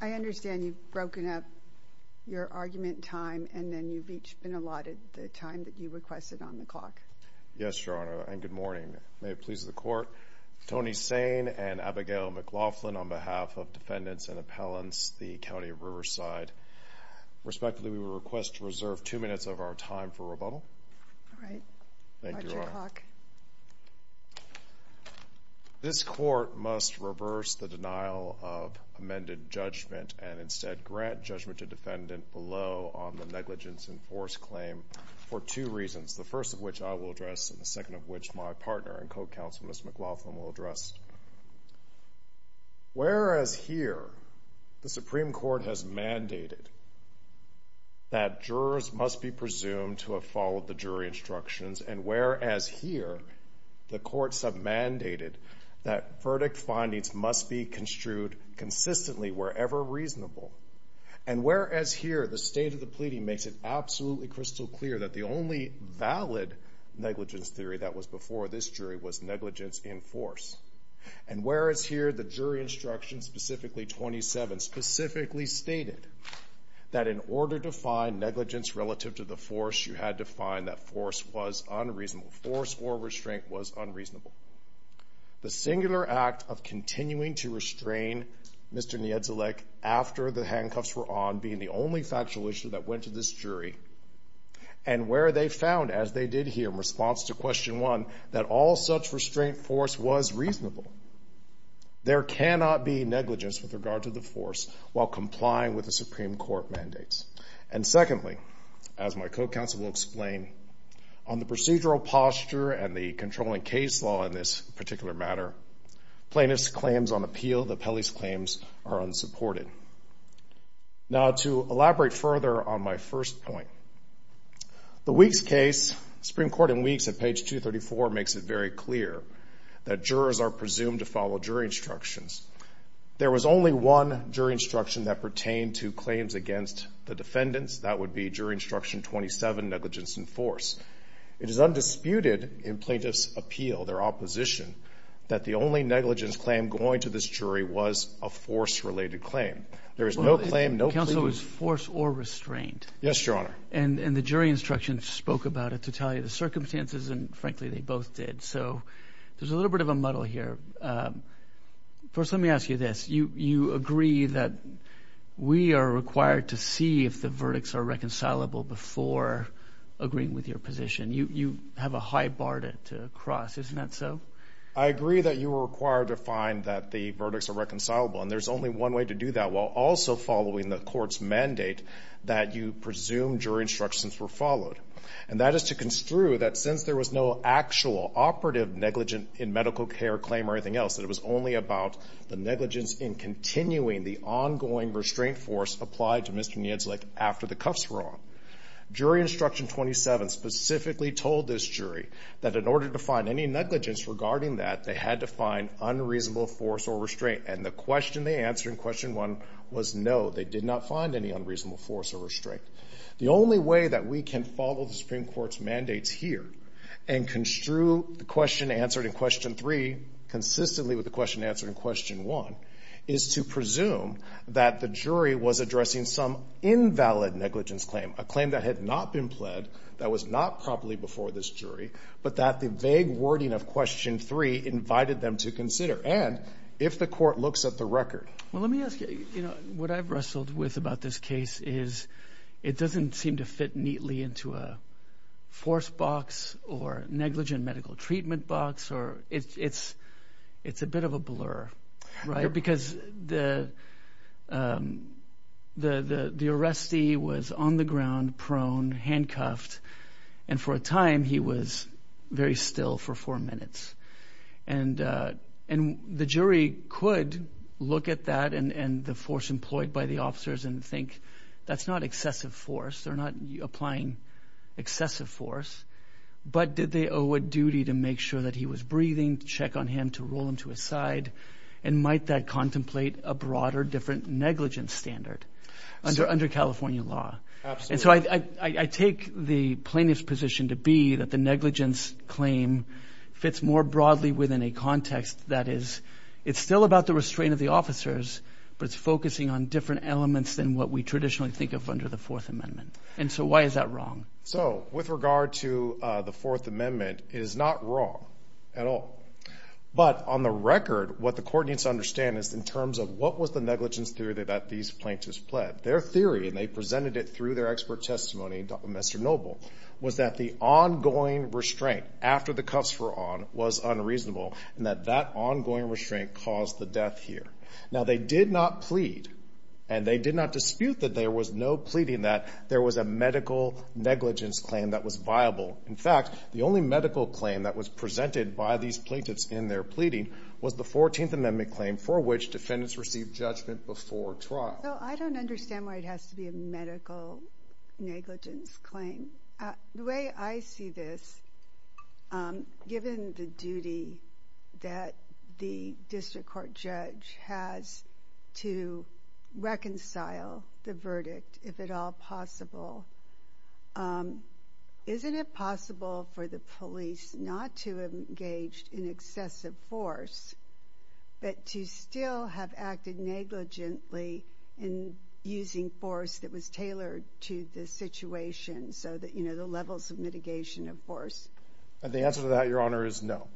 I understand you've broken up your argument time and then you've each been allotted the time that you requested on the clock. Yes, Your Honor, and good morning. May it please the Court, Tony Sane and Abigail McLaughlin on behalf of Defendants and Appellants, the County of Riverside. Respectively, we request to reserve two minutes of our time for rebuttal. All right. Watch your clock. This Court must reverse the denial of amended judgment and instead grant judgment to defendant below on the negligence in force claim for two reasons, the first of which I will address and the second of which my partner and co-counsel, Ms. McLaughlin, will address. Whereas here, the Supreme Court has mandated that jurors must be presumed to have followed the jury instructions, and whereas here, the courts have mandated that verdict findings must be construed consistently wherever reasonable, and whereas here, the state of the pleading makes it absolutely crystal clear that the only valid negligence theory that was before this jury was negligence in force, and whereas here, the jury instructions, specifically 27, specifically stated that in order to find negligence relative to the force, you had to find that force was unreasonable. Force or restraint was unreasonable. The singular act of continuing to restrain Mr. Niedzielek after the handcuffs were on being the only factual issue that went to this jury, and where they found, as they did here in response to question one, that all such restraint force was reasonable. There cannot be negligence with regard to the force while complying with the Supreme Court mandates. And secondly, as my co-counsel will explain, on the procedural posture and the controlling case law in this particular matter, plaintiff's claims on appeal, the Pele's claims, are unsupported. Now to elaborate further on my first point, the Weeks case, Supreme Court in Weeks at page 234, makes it very clear that jurors are presumed to follow jury instructions. There was only one jury instruction that pertained to claims against the defendants. That would be jury instruction 27, negligence in force. It is undisputed in plaintiff's appeal, their opposition, that the only negligence claim going to this jury was a force-related claim. There is no claim, no plea. Well, the counsel was force or restraint. Yes, Your Honor. And the jury instructions spoke about it to tell you the circumstances, and frankly, they both did. So there's a little bit of a muddle here. First, let me ask you this. You agree that we are required to see if the verdicts are reconcilable before agreeing with your position. You have a high bar to cross. Isn't that so? I agree that you are required to find that the verdicts are reconcilable, and there's only one way to do that while also following the court's mandate that you presume jury instructions were followed, and that is to construe that since there was no actual operative negligent in medical care claim or anything else, that it was only about the negligence in continuing the ongoing restraint force applied to Mr. Niedzelik after the cuffs were off. Jury instruction 27 specifically told this jury that in order to find any negligence regarding that, they had to find unreasonable force or restraint, and the question they answered in question one was no, they did not find any unreasonable force or restraint. The only way that we can follow the Supreme Court's mandates here and construe the question answered in question three consistently with the question answered in question one is to presume that the jury was addressing some invalid negligence claim, a claim that had not been pled, that was not properly before this jury, but that the vague wording of question three invited them to consider, and if the court looks at the record. Well, let me ask you, you know, what I've wrestled with about this case is it doesn't seem to fit neatly into a force box or negligent medical treatment box, or it's a bit of a blur, right? Because the arrestee was on the ground, prone, handcuffed, and for a time he was very still for four minutes, and the jury could look at that and the force employed by the officers and think that's not excessive force, they're not applying excessive force, but did they owe a duty to make sure that he was breathing, check on him to roll him to his side, and might that contemplate a broader different negligence standard under California law? Absolutely. And so I take the plaintiff's position to be that the negligence claim fits more broadly within a context that is, it's still about the restraint of the officers, but it's focusing on different elements than what we traditionally think of under the Fourth Amendment. And so why is that wrong? So with regard to the Fourth Amendment, it is not wrong at all. But on the record, what the court needs to understand is in terms of what was the negligence theory that these plaintiffs pled. Their theory, and they presented it through their expert testimony, Mr. Noble, was that the ongoing restraint after the cuffs were on was unreasonable, and that that ongoing restraint caused the death here. Now they did not plead, and they did not dispute that there was no pleading, that there was a medical negligence claim that was viable. In fact, the only medical claim that was presented by these plaintiffs in their pleading was the 14th Amendment claim for which defendants received judgment before trial. So I don't understand why it has to be a medical negligence claim. The way I see this, given the duty that the district court judge has to reconcile the verdict, if at all possible, isn't it possible for the police not to have engaged in excessive force, but to still have acted negligently in using force that was tailored to the situation, so that, you know, the levels of mitigation of force? And the answer to that, Your Honor, is no.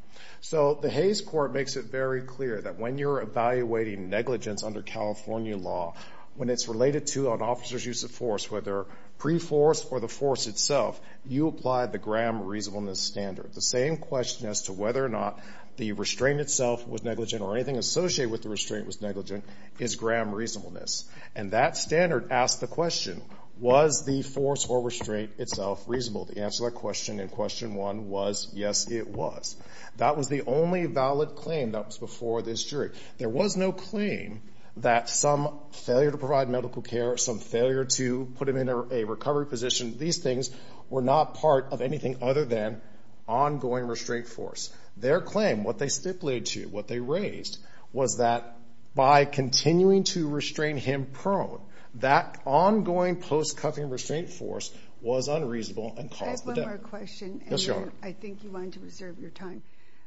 So the Hays Court makes it very clear that when you're evaluating negligence under California law, when it's related to an officer's use of force, whether pre-force or the force itself, you apply the Graham reasonableness standard. The same question as to whether or not the restraint itself was negligent or anything associated with the restraint was negligent is Graham reasonableness. And that standard asks the question, was the force or restraint itself reasonable? The answer to that question in Question 1 was, yes, it was. That was the only valid claim that was before this jury. There was no claim that some failure to provide medical care, some failure to put him in a recovery position, these things were not part of anything other than ongoing restraint force. Their claim, what they stipulated to you, what they raised, was that by continuing to restrain him prone, that ongoing post-cuffing restraint force was unreasonable and caused the death. I have one more question. Yes, Your Honor. And I think you wanted to reserve your time.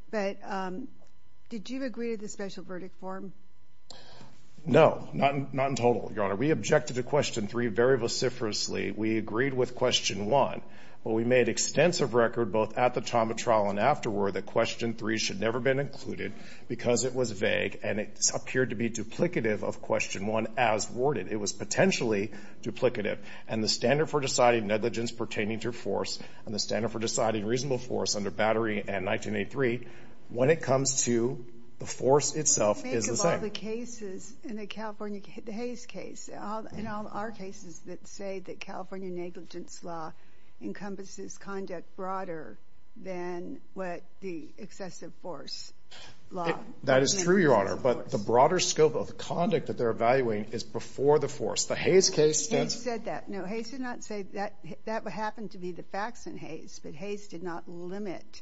But did you agree to the special verdict form? No, not in total, Your Honor. We objected to Question 3 very vociferously. We agreed with Question 1. But we made extensive record both at the time of trial and afterward that Question 3 should never have been included because it was vague and it appeared to be duplicative of Question 1 as worded. It was potentially duplicative. And the standard for deciding negligence pertaining to force and the standard for deciding reasonable force under Battery and 1983, when it comes to the force itself, is the same. Think of all the cases in the California Hays case and all our cases that say that California negligence law encompasses conduct broader than what the excessive force law. That is true, Your Honor, but the broader scope of the conduct that they're evaluating is before the force. The Hays case stands... Hays said that. No, Hays did not say that. That happened to be the facts in Hays, but Hays did not limit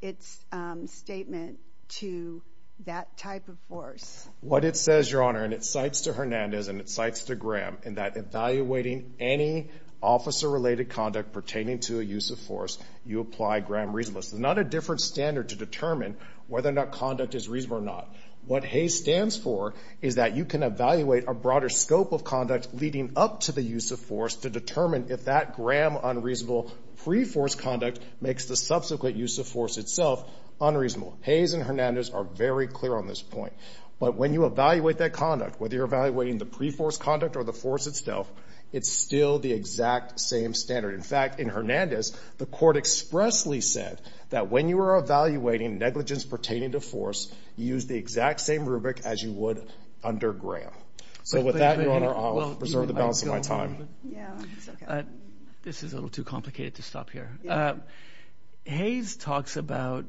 its statement to that type of force. What it says, Your Honor, and it cites to Hernandez and it cites to Graham, in that evaluating any officer-related conduct pertaining to a use of force, you apply Graham reasonableness. It's not a different standard to determine whether or not conduct is reasonable or not. What Hays stands for is that you can evaluate a broader scope of conduct leading up to the use of force to determine if that Graham unreasonable pre-force conduct makes the subsequent use of force itself unreasonable. Hays and Hernandez are very clear on this point. But when you evaluate that conduct, whether you're evaluating the pre-force conduct or the force itself, it's still the exact same standard. In fact, in Hernandez, the court expressly said that when you are evaluating negligence pertaining to force, you use the exact same rubric as you would under Graham. So with that, Your Honor, I'll preserve the balance of my time. This is a little too complicated to stop here. Hays talks about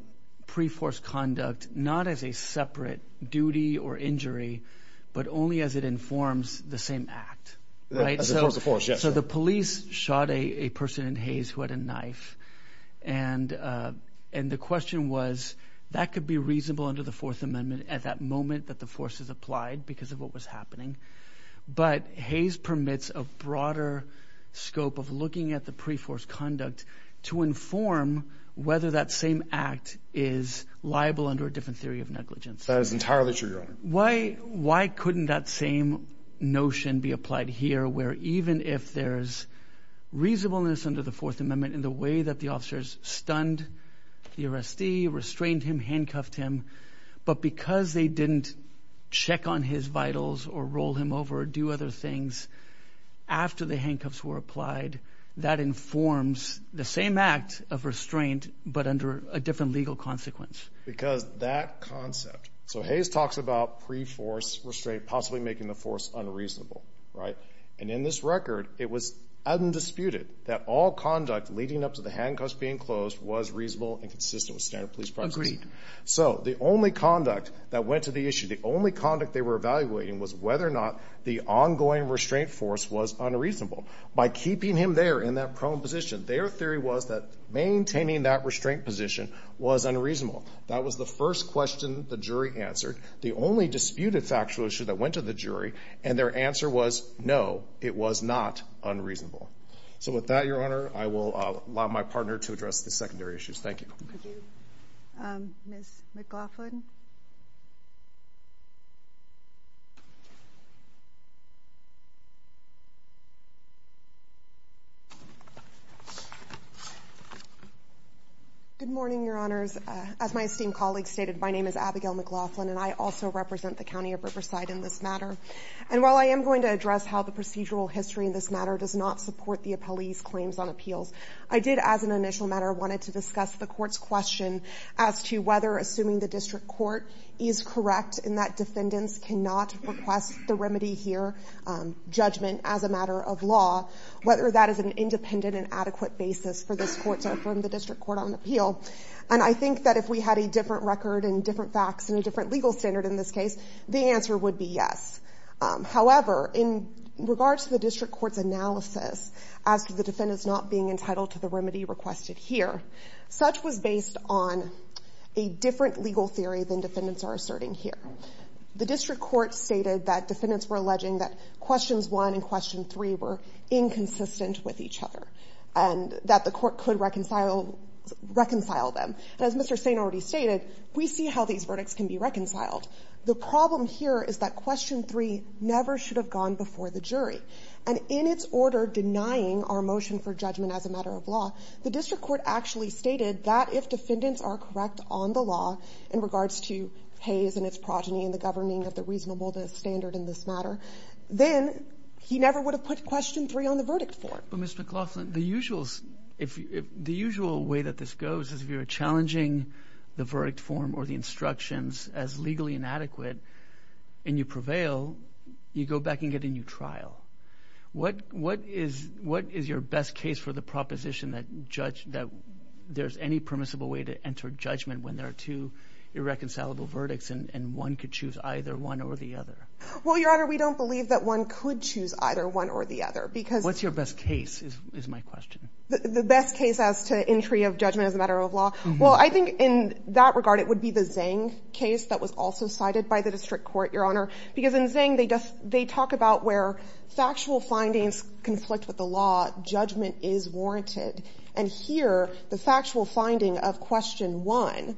pre-force conduct not as a separate duty or injury but only as it informs the same act. So the police shot a person in Hays who had a knife, and the question was that could be reasonable under the Fourth Amendment at that moment that the force is applied because of what was happening. But Hays permits a broader scope of looking at the pre-force conduct to inform whether that same act is liable under a different theory of negligence. That is entirely true, Your Honor. Why couldn't that same notion be applied here where even if there's reasonableness under the Fourth Amendment in the way that the officers stunned the arrestee, restrained him, handcuffed him, but because they didn't check on his vitals or roll him over or do other things after the handcuffs were applied, that informs the same act of restraint but under a different legal consequence. Because that concept. So Hays talks about pre-force restraint possibly making the force unreasonable, right? And in this record, it was undisputed that all conduct leading up to the handcuffs being closed was reasonable and consistent with standard police practices. Agreed. So the only conduct that went to the issue, the only conduct they were evaluating was whether or not the ongoing restraint force was unreasonable. By keeping him there in that prone position, their theory was that maintaining that restraint position was unreasonable. That was the first question the jury answered, the only disputed factual issue that went to the jury, and their answer was no, it was not unreasonable. So with that, Your Honor, I will allow my partner to address the secondary issues. Thank you. Ms. McLaughlin. Good morning, Your Honors. As my esteemed colleague stated, my name is Abigail McLaughlin, and I also represent the County of Riverside in this matter. And while I am going to address how the procedural history in this matter does not support the appellee's claims on appeals, I did, as an initial matter, wanted to discuss the court's question as to whether assuming the district court is correct in that defendants cannot request the remedy here judgment as a matter of law, whether that is an independent and adequate basis for this court to affirm the district court on appeal. And I think that if we had a different record and different facts and a different legal standard in this case, the answer would be yes. However, in regards to the district court's analysis as to the defendants not being entitled to the remedy requested here, such was based on a different legal theory than defendants are asserting here. The district court stated that defendants were alleging that questions 1 and question 3 were inconsistent with each other and that the court could reconcile them. And as Mr. Stain already stated, we see how these verdicts can be reconciled. The problem here is that question 3 never should have gone before the jury. And in its order denying our motion for judgment as a matter of law, the district court actually stated that if defendants are correct on the law in regards to Hays and its progeny and the governing of the reasonable standard in this matter, then he never would have put question 3 on the verdict form. But, Ms. McLaughlin, the usual way that this goes is if you're challenging the verdict form or the instructions as legally inadequate and you prevail, you go back and get a new trial. What is your best case for the proposition that there's any permissible way to enter judgment when there are two irreconcilable verdicts and one could choose either one or the other? Well, Your Honor, we don't believe that one could choose either one or the other. What's your best case, is my question. The best case as to entry of judgment as a matter of law? Well, I think in that regard, it would be the Zhang case that was also cited by the district court, Your Honor. Because in Zhang, they talk about where factual findings conflict with the law, judgment is warranted. And here, the factual finding of question 1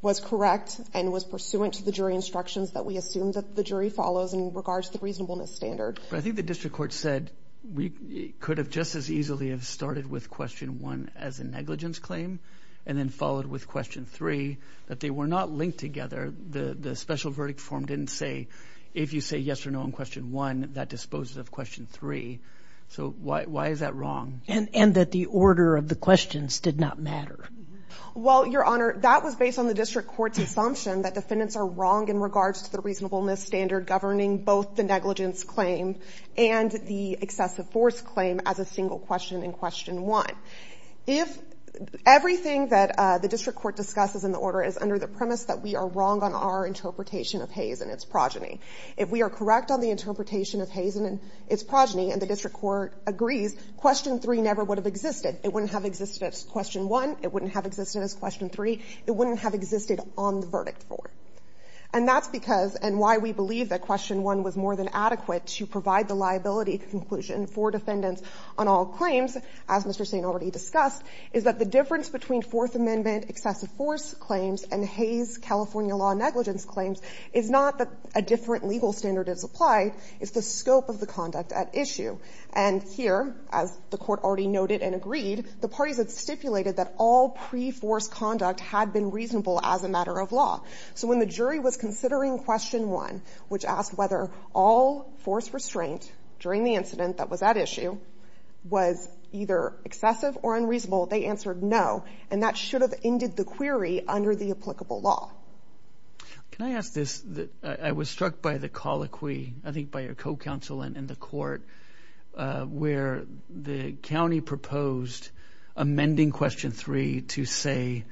was correct and was pursuant to the jury instructions that we assume that the jury follows in regards to the reasonableness standard. But I think the district court said we could have just as easily have started with question 1 as a negligence claim and then followed with question 3, that they were not linked together. The special verdict form didn't say, if you say yes or no in question 1, that disposes of question 3. So why is that wrong? And that the order of the questions did not matter. Well, Your Honor, that was based on the district court's assumption that defendants are wrong in regards to the reasonableness standard governing both the negligence claim and the excessive force claim as a single question in question 1. Now, if everything that the district court discusses in the order is under the premise that we are wrong on our interpretation of Hayes and its progeny, if we are correct on the interpretation of Hayes and its progeny and the district court agrees, question 3 never would have existed. It wouldn't have existed as question 1. It wouldn't have existed as question 3. It wouldn't have existed on the verdict form. And that's because, and why we believe that question 1 was more than adequate to provide the liability conclusion for defendants on all claims, as Mr. Sain already discussed, is that the difference between Fourth Amendment excessive force claims and Hayes' California law negligence claims is not that a different legal standard is applied, it's the scope of the conduct at issue. And here, as the court already noted and agreed, the parties had stipulated that all pre-force conduct had been reasonable as a matter of law. So when the jury was considering question 1, which asked whether all force restraint during the incident that was at issue was either excessive or unreasonable, they answered no, and that should have ended the query under the applicable law. Can I ask this? I was struck by the colloquy, I think by your co-counsel and the court, where the county proposed amending question 3 to say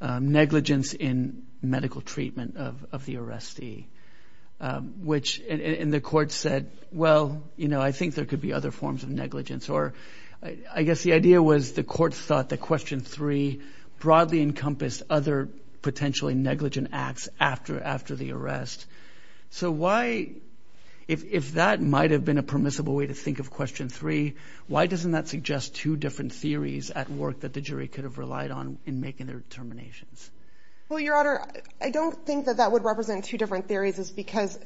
negligence in medical treatment of the arrestee, which, and the court said, well, you know, I think there could be other forms of negligence, or I guess the idea was the court thought that question 3 broadly encompassed other potentially negligent acts after the arrest. So why, if that might have been a permissible way to think of question 3, why doesn't that suggest two different theories at work that the jury could have relied on in making their determinations? Well, Your Honor, I don't think that that would represent two different theories, because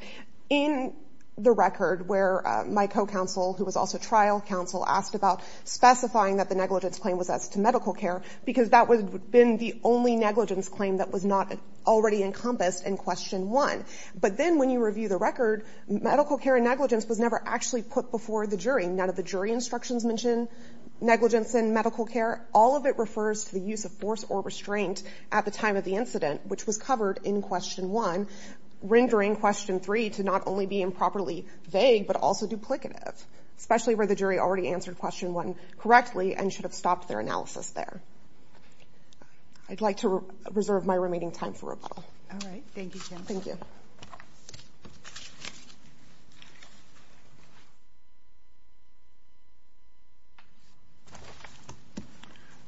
in the record where my co-counsel, who was also trial counsel, asked about specifying that the negligence claim was as to medical care, because that would have been the only negligence claim that was not already encompassed in question 1. But then when you review the record, medical care negligence was never actually put before the jury. None of the jury instructions mention negligence in medical care. All of it refers to the use of force or restraint at the time of the incident, which was covered in question 1, rendering question 3 to not only be improperly vague, but also duplicative, especially where the jury already answered question 1 correctly and should have stopped their analysis there. I'd like to reserve my remaining time for rebuttal. All right. Thank you, Jennifer. Thank you.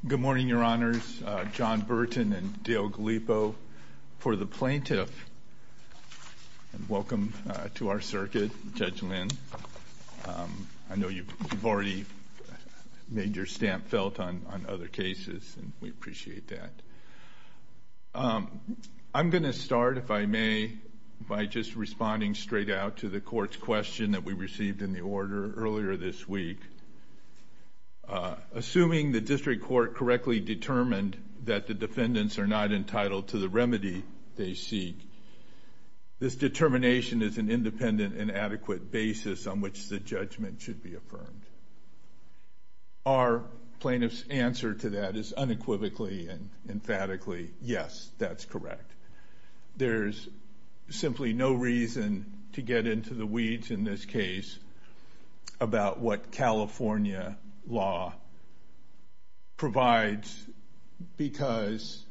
Good morning, Your Honors. John Burton and Dale Gallipo. For the plaintiff, welcome to our circuit, Judge Lynn. I know you've already made your stamp felt on other cases, and we appreciate that. I'm going to start, if I may, by just responding straight out to the court's question that we received in the order earlier this week. Assuming the district court correctly determined that the defendants are not entitled to the remedy they seek, this determination is an independent and adequate basis on which the judgment should be affirmed. Our plaintiff's answer to that is unequivocally and emphatically, yes, that's correct. There's simply no reason to get into the weeds in this case about what California law provides because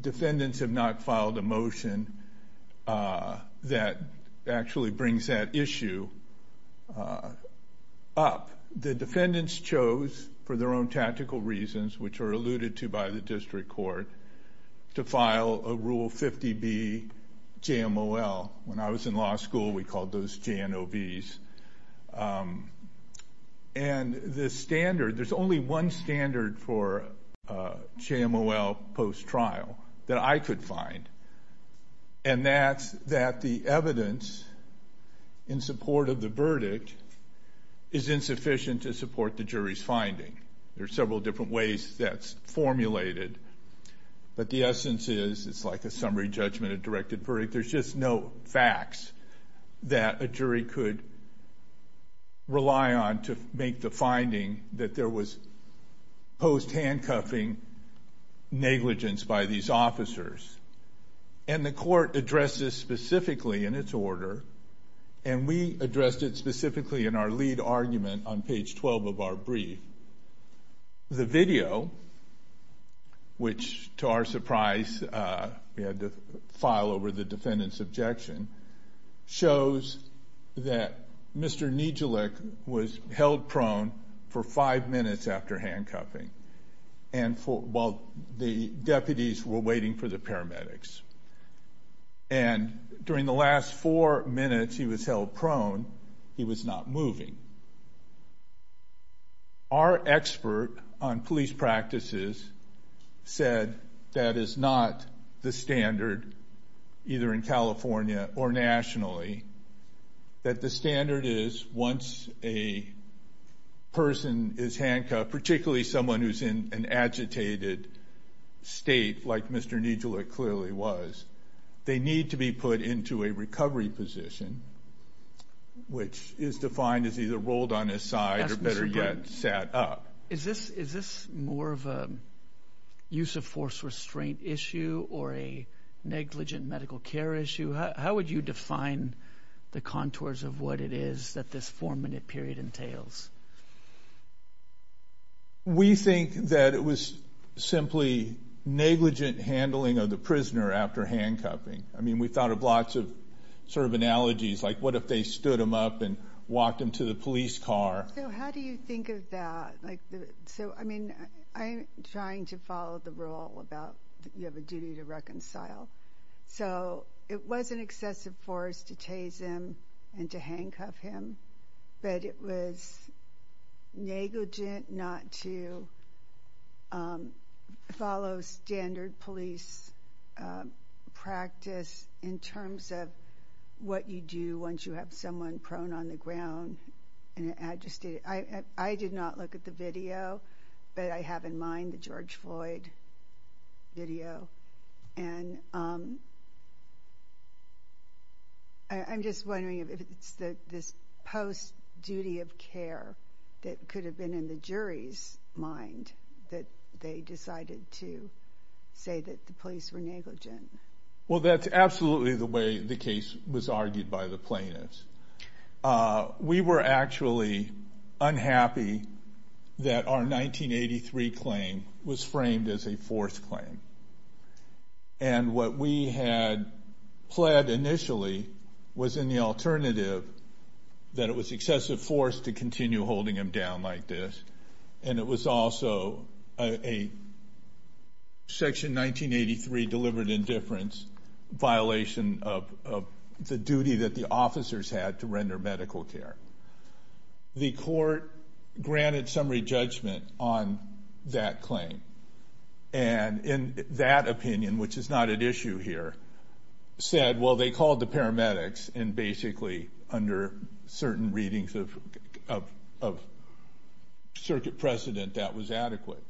defendants have not filed a motion that actually brings that issue up. The defendants chose, for their own tactical reasons, which are alluded to by the district court, to file a Rule 50B JMOL. When I was in law school, we called those JNOVs. And the standard, there's only one standard for JMOL post-trial that I could find, and that's that the evidence in support of the verdict is insufficient to support the jury's finding. There are several different ways that's formulated, but the essence is it's like a summary judgment, a directed verdict. There's just no facts that a jury could rely on to make the finding that there was post-handcuffing negligence by these officers. And the court addressed this specifically in its order, and we addressed it specifically in our lead argument on page 12 of our brief. The video, which, to our surprise, we had to file over the defendant's objection, shows that Mr. Nijeluk was held prone for five minutes after handcuffing while the deputies were waiting for the paramedics. And during the last four minutes he was held prone, he was not moving. Our expert on police practices said that is not the standard, either in California or nationally, that the standard is once a person is handcuffed, particularly someone who's in an agitated state like Mr. Nijeluk clearly was, they need to be put into a recovery position, which is defined as either rolled on his side or, better yet, sat up. Is this more of a use of force restraint issue or a negligent medical care issue? How would you define the contours of what it is that this four-minute period entails? We think that it was simply negligent handling of the prisoner after handcuffing. I mean, we thought of lots of sort of analogies, like what if they stood him up and walked him to the police car? So how do you think of that? So, I mean, I'm trying to follow the rule about you have a duty to reconcile. So it was an excessive force to chase him and to handcuff him, but it was negligent not to follow standard police practice in terms of what you do once you have someone prone on the ground in an agitated... I did not look at the video, but I have in mind the George Floyd video. And I'm just wondering if it's this post-duty of care that could have been in the jury's mind that they decided to say that the police were negligent. Well, that's absolutely the way the case was argued by the plaintiffs. We were actually unhappy that our 1983 claim was framed as a fourth claim. And what we had pled initially was in the alternative that it was excessive force to continue holding him down like this. And it was also a Section 1983 deliberate indifference violation of the duty that the officers had to render medical care. The court granted summary judgment on that claim. And in that opinion, which is not at issue here, said, well, they called the paramedics and basically under certain readings of circuit precedent, that was adequate.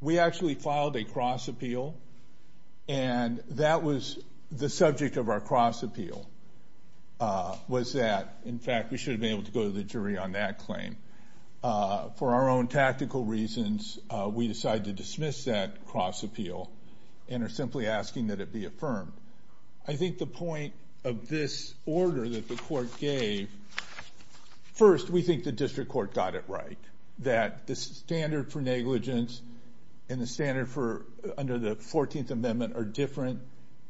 We actually filed a cross appeal, and that was the subject of our cross appeal, was that, in fact, we should have been able to go to the jury on that claim. For our own tactical reasons, we decided to dismiss that cross appeal and are simply asking that it be affirmed. I think the point of this order that the court gave... First, we think the district court got it right, that the standard for negligence and the standard under the 14th Amendment are different.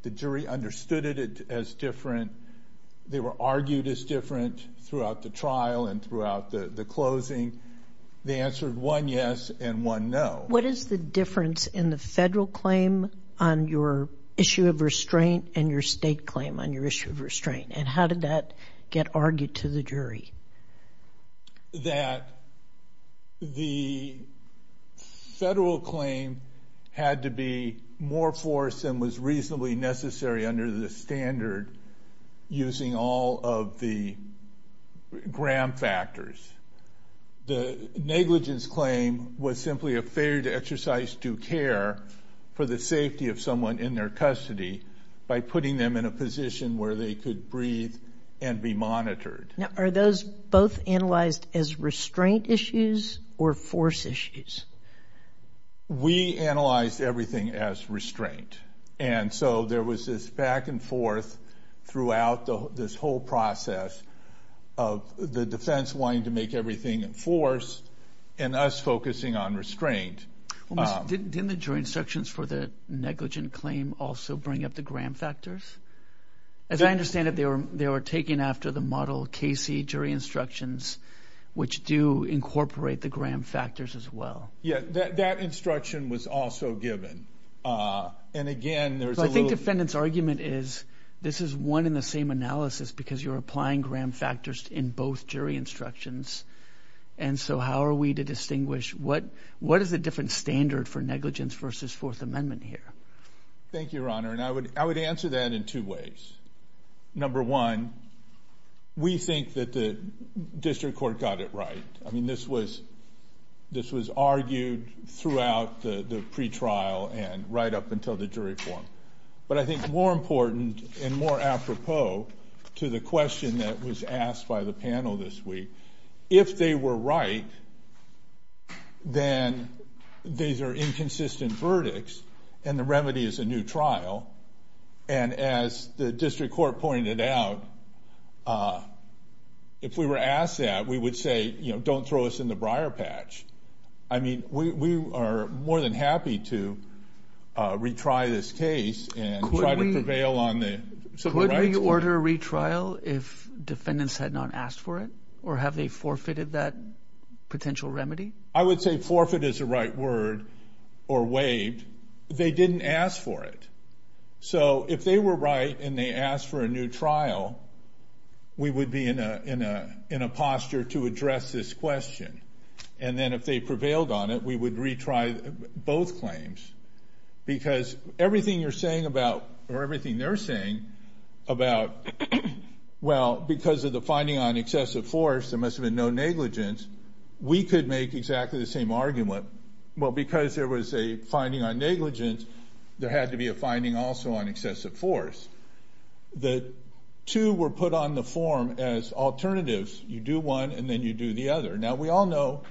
The jury understood it as different. They were argued as different throughout the trial and throughout the closing. They answered one yes and one no. What is the difference in the federal claim on your issue of restraint and your state claim on your issue of restraint? And how did that get argued to the jury? That the federal claim had to be more forced and was reasonably necessary under the standard using all of the gram factors. The negligence claim was simply a failure to exercise due care for the safety of someone in their custody by putting them in a position where they could breathe and be monitored. Now, are those both analyzed as restraint issues or force issues? We analyzed everything as restraint. And so there was this back and forth throughout this whole process of the defense wanting to make everything in force and us focusing on restraint. Didn't the jury instructions for the negligent claim also bring up the gram factors? As I understand it, they were taken after the model Casey jury instructions, which do incorporate the gram factors as well. Yeah, that instruction was also given. And again, there's a little... I think the defendant's argument is this is one in the same analysis because you're applying gram factors in both jury instructions. And so how are we to distinguish what is the different standard for negligence versus Fourth Amendment here? Thank you, Your Honor. And I would answer that in two ways. Number one, we think that the district court got it right. I mean, this was argued throughout the pretrial and right up until the jury forum. But I think more important and more apropos to the question that was asked by the panel this week, if they were right, then these are inconsistent verdicts and the remedy is a new trial. And as the district court pointed out, if we were asked that, we would say, you know, don't throw us in the briar patch. I mean, we are more than happy to retry this case and try to prevail on the civil rights case. Could we order a retrial if defendants had not asked for it or have they forfeited that potential remedy? I would say forfeit is the right word or waived. They didn't ask for it. So if they were right and they asked for a new trial, we would be in a posture to address this question. And then if they prevailed on it, we would retry both claims. Because everything you're saying about, or everything they're saying about, well, because of the finding on excessive force, there must have been no negligence, we could make exactly the same argument. Well, because there was a finding on negligence, there had to be a finding also on excessive force. The two were put on the form as alternatives. You do one and then you do the other. Now, we all know,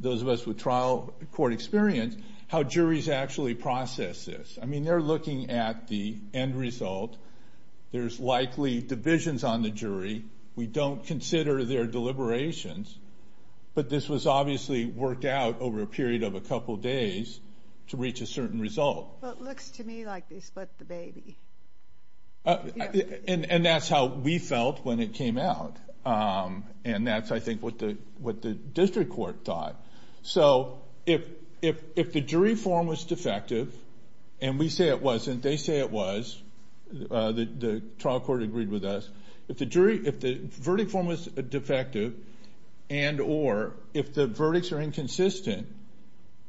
those of us with trial court experience, how juries actually process this. I mean, they're looking at the end result. There's likely divisions on the jury. We don't consider their deliberations. But this was obviously worked out over a period of a couple days to reach a certain result. Well, it looks to me like they split the baby. And that's how we felt when it came out. And that's, I think, what the district court thought. So if the jury form was defective, and we say it wasn't, they say it was, the trial court agreed with us. If the verdict form was defective and or if the verdicts are inconsistent,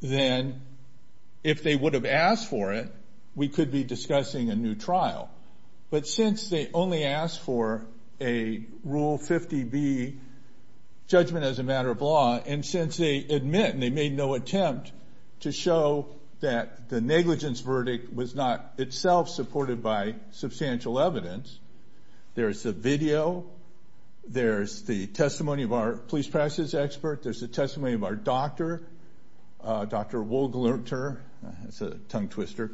then if they would have asked for it, we could be discussing a new trial. But since they only asked for a Rule 50B judgment as a matter of law, and since they admit and they made no attempt to show that the negligence verdict was not itself supported by substantial evidence, there's a video, there's the testimony of our police practice expert, there's the testimony of our doctor, Dr. Will Glunter, that's a tongue twister,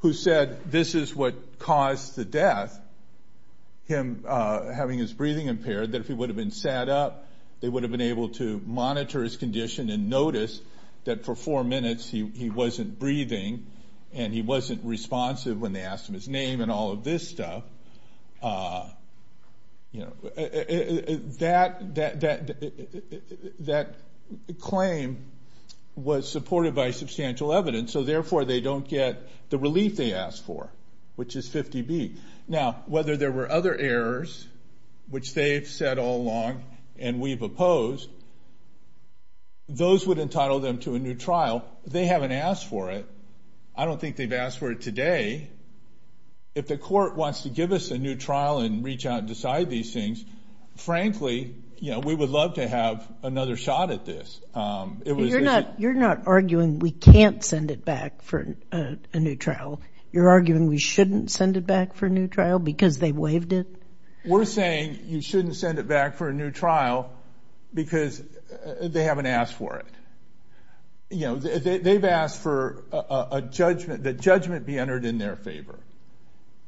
who said this is what caused the death, him having his breathing impaired, that if he would have been sat up, they would have been able to monitor his condition and notice that for four minutes he wasn't breathing and he wasn't responsive when they asked him his name and all of this stuff. That claim was supported by substantial evidence, so therefore they don't get the relief they asked for, which is 50B. Now, whether there were other errors, which they've said all along and we've opposed, those would entitle them to a new trial. They haven't asked for it. I don't think they've asked for it today. If the court wants to give us a new trial and reach out and decide these things, frankly, we would love to have another shot at this. You're not arguing we can't send it back for a new trial. You're arguing we shouldn't send it back for a new trial because they waived it? We're saying you shouldn't send it back for a new trial because they haven't asked for it. They've asked for the judgment be entered in their favor,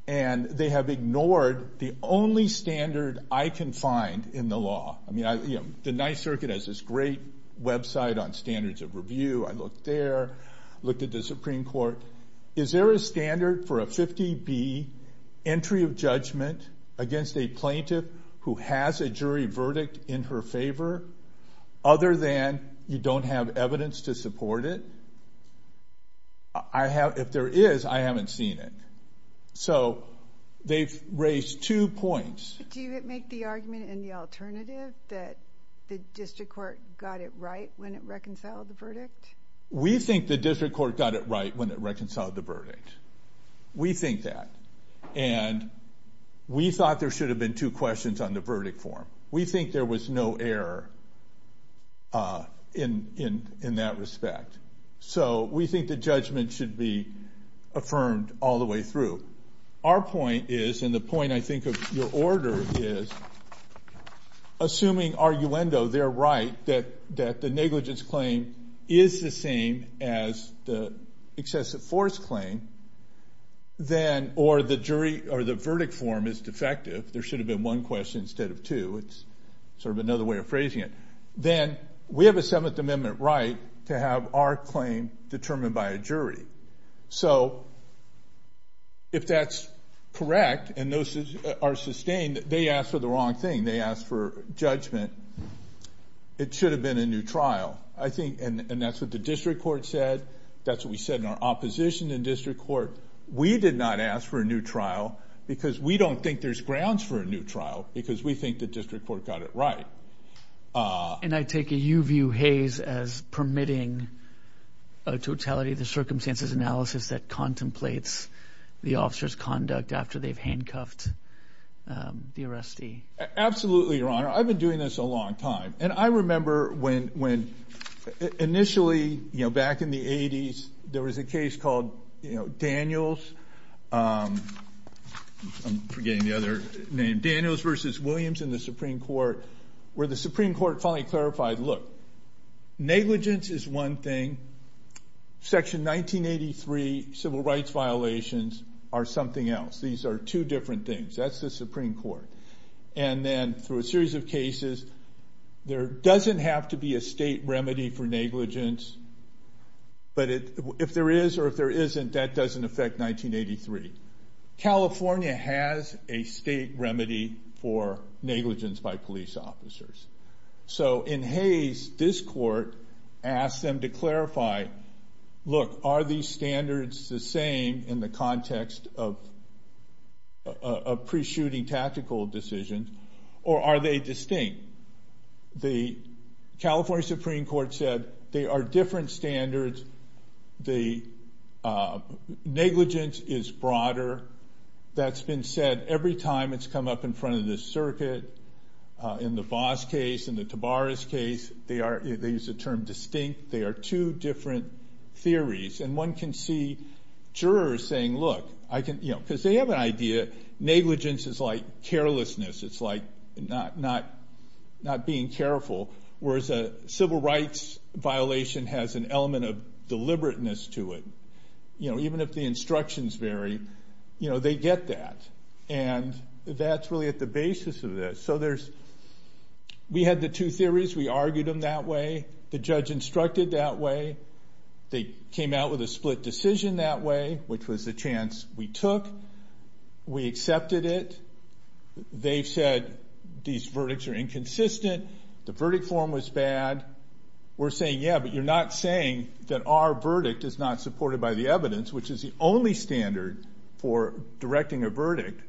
and they have ignored the only standard I can find in the law. The Ninth Circuit has this great website on standards of review. I looked there. I looked at the Supreme Court. Is there a standard for a 50B entry of judgment against a plaintiff who has a jury verdict in her favor other than you don't have evidence to support it? If there is, I haven't seen it. So they've raised two points. Do you make the argument in the alternative that the district court got it right when it reconciled the verdict? We think the district court got it right when it reconciled the verdict. We think that. And we thought there should have been two questions on the verdict form. We think there was no error in that respect. So we think the judgment should be affirmed all the way through. Our point is, and the point, I think, of your order is, assuming, arguendo, they're right, that the negligence claim is the same as the excessive force claim, or the verdict form is defective, there should have been one question instead of two. It's sort of another way of phrasing it. Then we have a Seventh Amendment right to have our claim determined by a jury. So if that's correct and those are sustained, they asked for the wrong thing. They asked for judgment. It should have been a new trial. And that's what the district court said. That's what we said in our opposition in district court. We did not ask for a new trial because we don't think there's grounds for a new trial because we think the district court got it right. And I take a you-view haze as permitting a totality of the circumstances analysis that contemplates the officer's conduct after they've handcuffed the arrestee. Absolutely, Your Honor. I've been doing this a long time. And I remember when initially, back in the 80s, there was a case called Daniels. I'm forgetting the other name. Daniels v. Williams in the Supreme Court where the Supreme Court finally clarified, look, negligence is one thing. Section 1983 civil rights violations are something else. These are two different things. That's the Supreme Court. And then through a series of cases, there doesn't have to be a state remedy for negligence, but if there is or if there isn't, that doesn't affect 1983. California has a state remedy for negligence by police officers. So in haze, this court asked them to clarify, look, are these standards the same in the context of pre-shooting tactical decisions or are they distinct? The California Supreme Court said that they are different standards. Negligence is broader. That's been said every time it's come up in front of this circuit. In the Voss case, in the Tabaras case, they use the term distinct. They are two different theories. And one can see jurors saying, look, because they have an idea, negligence is like carelessness. It's like not being careful. Whereas a civil rights violation has an element of deliberateness to it. Even if the instructions vary, they get that. And that's really at the basis of this. So we had the two theories. We argued them that way. The judge instructed that way. They came out with a split decision that way, which was the chance we took. We accepted it. They said these verdicts are inconsistent. The verdict form was bad. We're saying, yeah, but you're not saying that our verdict is not supported by the evidence, which is the only standard for directing a verdict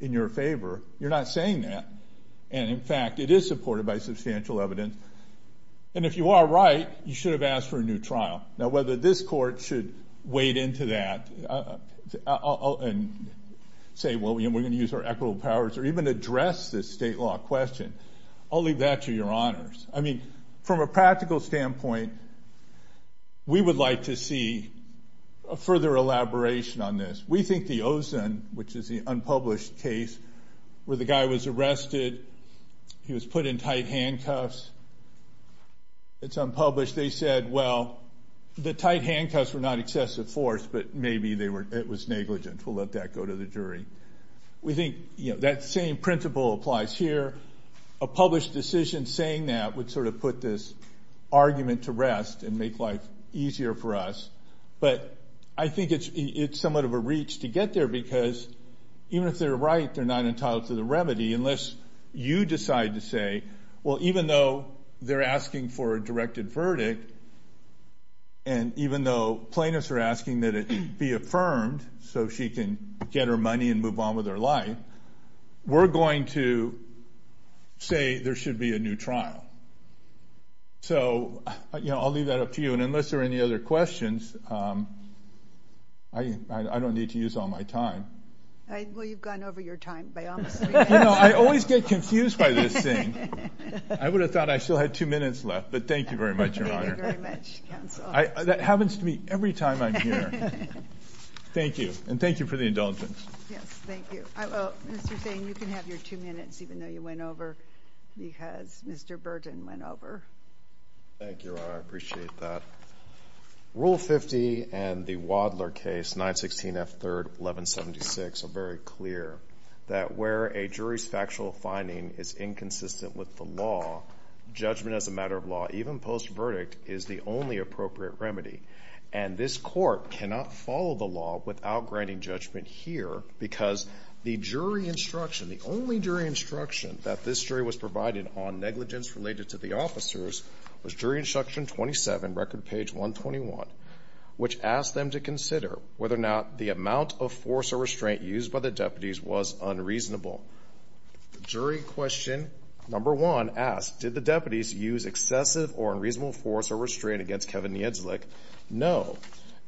in your favor. You're not saying that. And in fact, it is supported by substantial evidence. And if you are right, you should have asked for a new trial. Now, whether this court should wade into that and say, well, we're going to use our equitable powers or even address this state law question, I'll leave that to your honors. I mean, from a practical standpoint, we would like to see a further elaboration on this. We think the Ozen, which is the unpublished case where the guy was arrested, he was put in tight handcuffs. It's unpublished. They said, well, the tight handcuffs were not excessive force, but maybe it was negligent. We'll let that go to the jury. We think that same principle applies here. A published decision saying that would sort of put this argument to rest and make life easier for us. But I think it's somewhat of a reach to get there because even if they're right, they're not entitled to the remedy unless you decide to say, well, even though they're asking for a directed verdict and even though plaintiffs are asking that it be affirmed so she can get her money and move on with her life, we're going to say there should be a new trial. So I'll leave that up to you. And unless there are any other questions, I don't need to use all my time. Well, you've gone over your time by all means. You know, I always get confused by this thing. I would have thought I still had two minutes left, but thank you very much, Your Honor. Thank you very much, counsel. That happens to me every time I'm here. Thank you. And thank you for the indulgence. Yes, thank you. Mr. Singh, you can have your two minutes even though you went over because Mr. Burton went over. Thank you, Your Honor. I appreciate that. Rule 50 and the Wadler case, 916 F. 3rd, 1176, are very clear that where a jury's factual finding is inconsistent with the law, judgment as a matter of law, even post-verdict, is the only appropriate remedy. And this court cannot follow the law without granting judgment here because the jury instruction, the only jury instruction that this jury was provided on negligence related to the officers, was jury instruction 27, record page 121, which asked them to consider whether or not the amount of force or restraint used by the deputies was unreasonable. Jury question number one asked, did the deputies use excessive or unreasonable force or restraint against Kevin Niedzlik? No.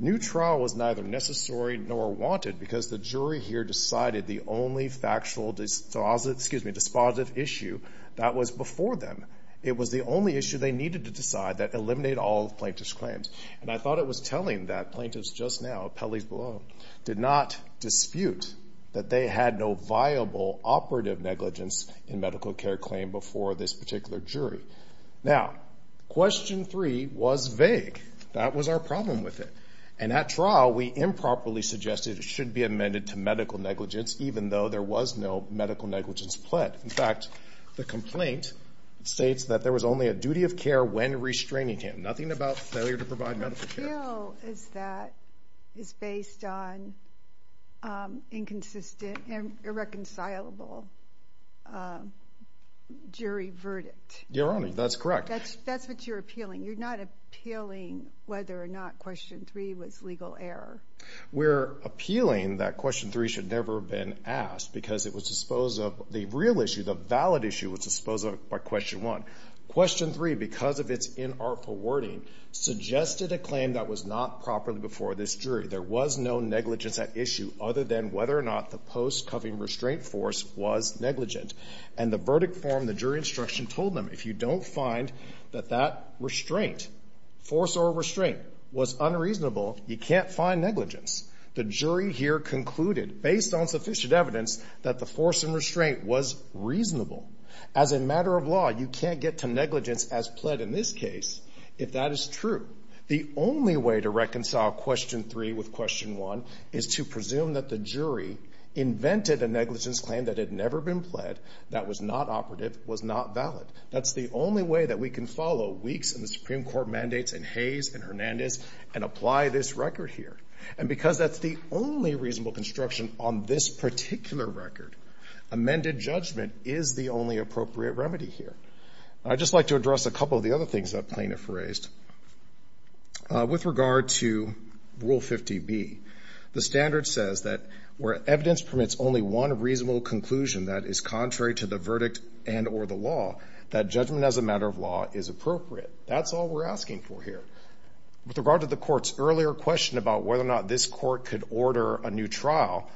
New trial was neither necessary nor wanted because the jury here decided the only factual dispositive issue that was before them. It was the only issue they needed to decide that eliminated all plaintiff's claims. And I thought it was telling that plaintiffs just now, Pelley's below, did not dispute that they had no viable operative negligence in medical care claim before this particular jury. Now, question three was vague. That was our problem with it. And at trial, we improperly suggested it should be amended to medical negligence even though there was no medical negligence pled. In fact, the complaint states that there was only a duty of care when restraining him, nothing about failure to provide medical care. The appeal is that it's based on inconsistent and irreconcilable jury verdict. Your Honor, that's correct. That's what you're appealing. You're not appealing whether or not question three was legal error. We're appealing that question three should never have been asked because it was disposed of. The real issue, the valid issue, was disposed of by question one. Question three, because of its inartful wording, suggested a claim that was not properly before this jury. There was no negligence at issue other than whether or not the post-Cuffean restraint force was negligent. And the verdict form, the jury instruction, told them if you don't find that that restraint, force or restraint, was unreasonable, you can't find negligence. The jury here concluded, based on sufficient evidence, that the force and restraint was reasonable. As a matter of law, you can't get to negligence as pled in this case if that is true. The only way to reconcile question three with question one is to presume that the jury invented a negligence claim that had never been pled, that was not operative, was not valid. That's the only way that we can follow Weeks and the Supreme Court mandates and Hayes and Hernandez and apply this record here. And because that's the only reasonable construction on this particular record, amended judgment is the only appropriate remedy here. I'd just like to address a couple of the other things that plaintiff raised. With regard to Rule 50B, the standard says that where evidence permits only one reasonable conclusion that is contrary to the verdict and or the law, that judgment as a matter of law is appropriate. That's all we're asking for here. With regard to the court's earlier question about whether or not this court could order a new trial,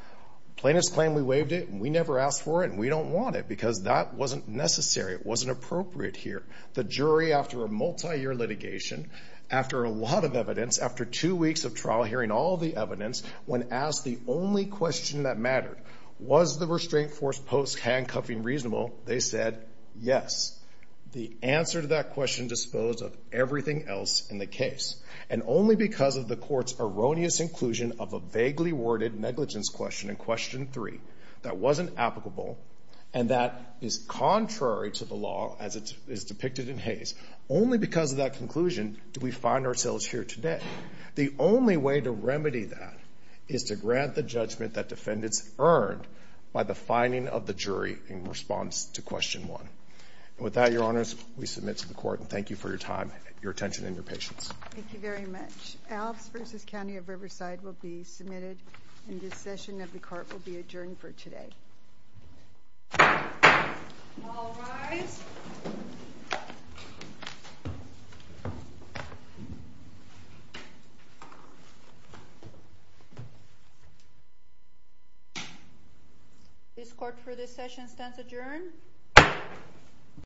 plaintiff's claim, we waived it, and we never asked for it, and we don't want it because that wasn't necessary. It wasn't appropriate here. The jury, after a multi-year litigation, after a lot of evidence, after two weeks of trial hearing all the evidence, when asked the only question that mattered, was the restraint force post-handcuffing reasonable, they said yes. The answer to that question disposed of everything else in the case, and only because of the court's erroneous inclusion of a vaguely worded negligence question in Question 3 that wasn't applicable and that is contrary to the law as it is depicted in Hayes, only because of that conclusion do we find ourselves here today. The only way to remedy that is to grant the judgment that defendants earned by the finding of the jury in response to Question 1. With that, Your Honors, we submit to the court, and thank you for your time, your attention, and your patience. Thank you very much. Alps v. County of Riverside will be submitted, and this session of the court will be adjourned for today. All rise. This court for this session stands adjourned.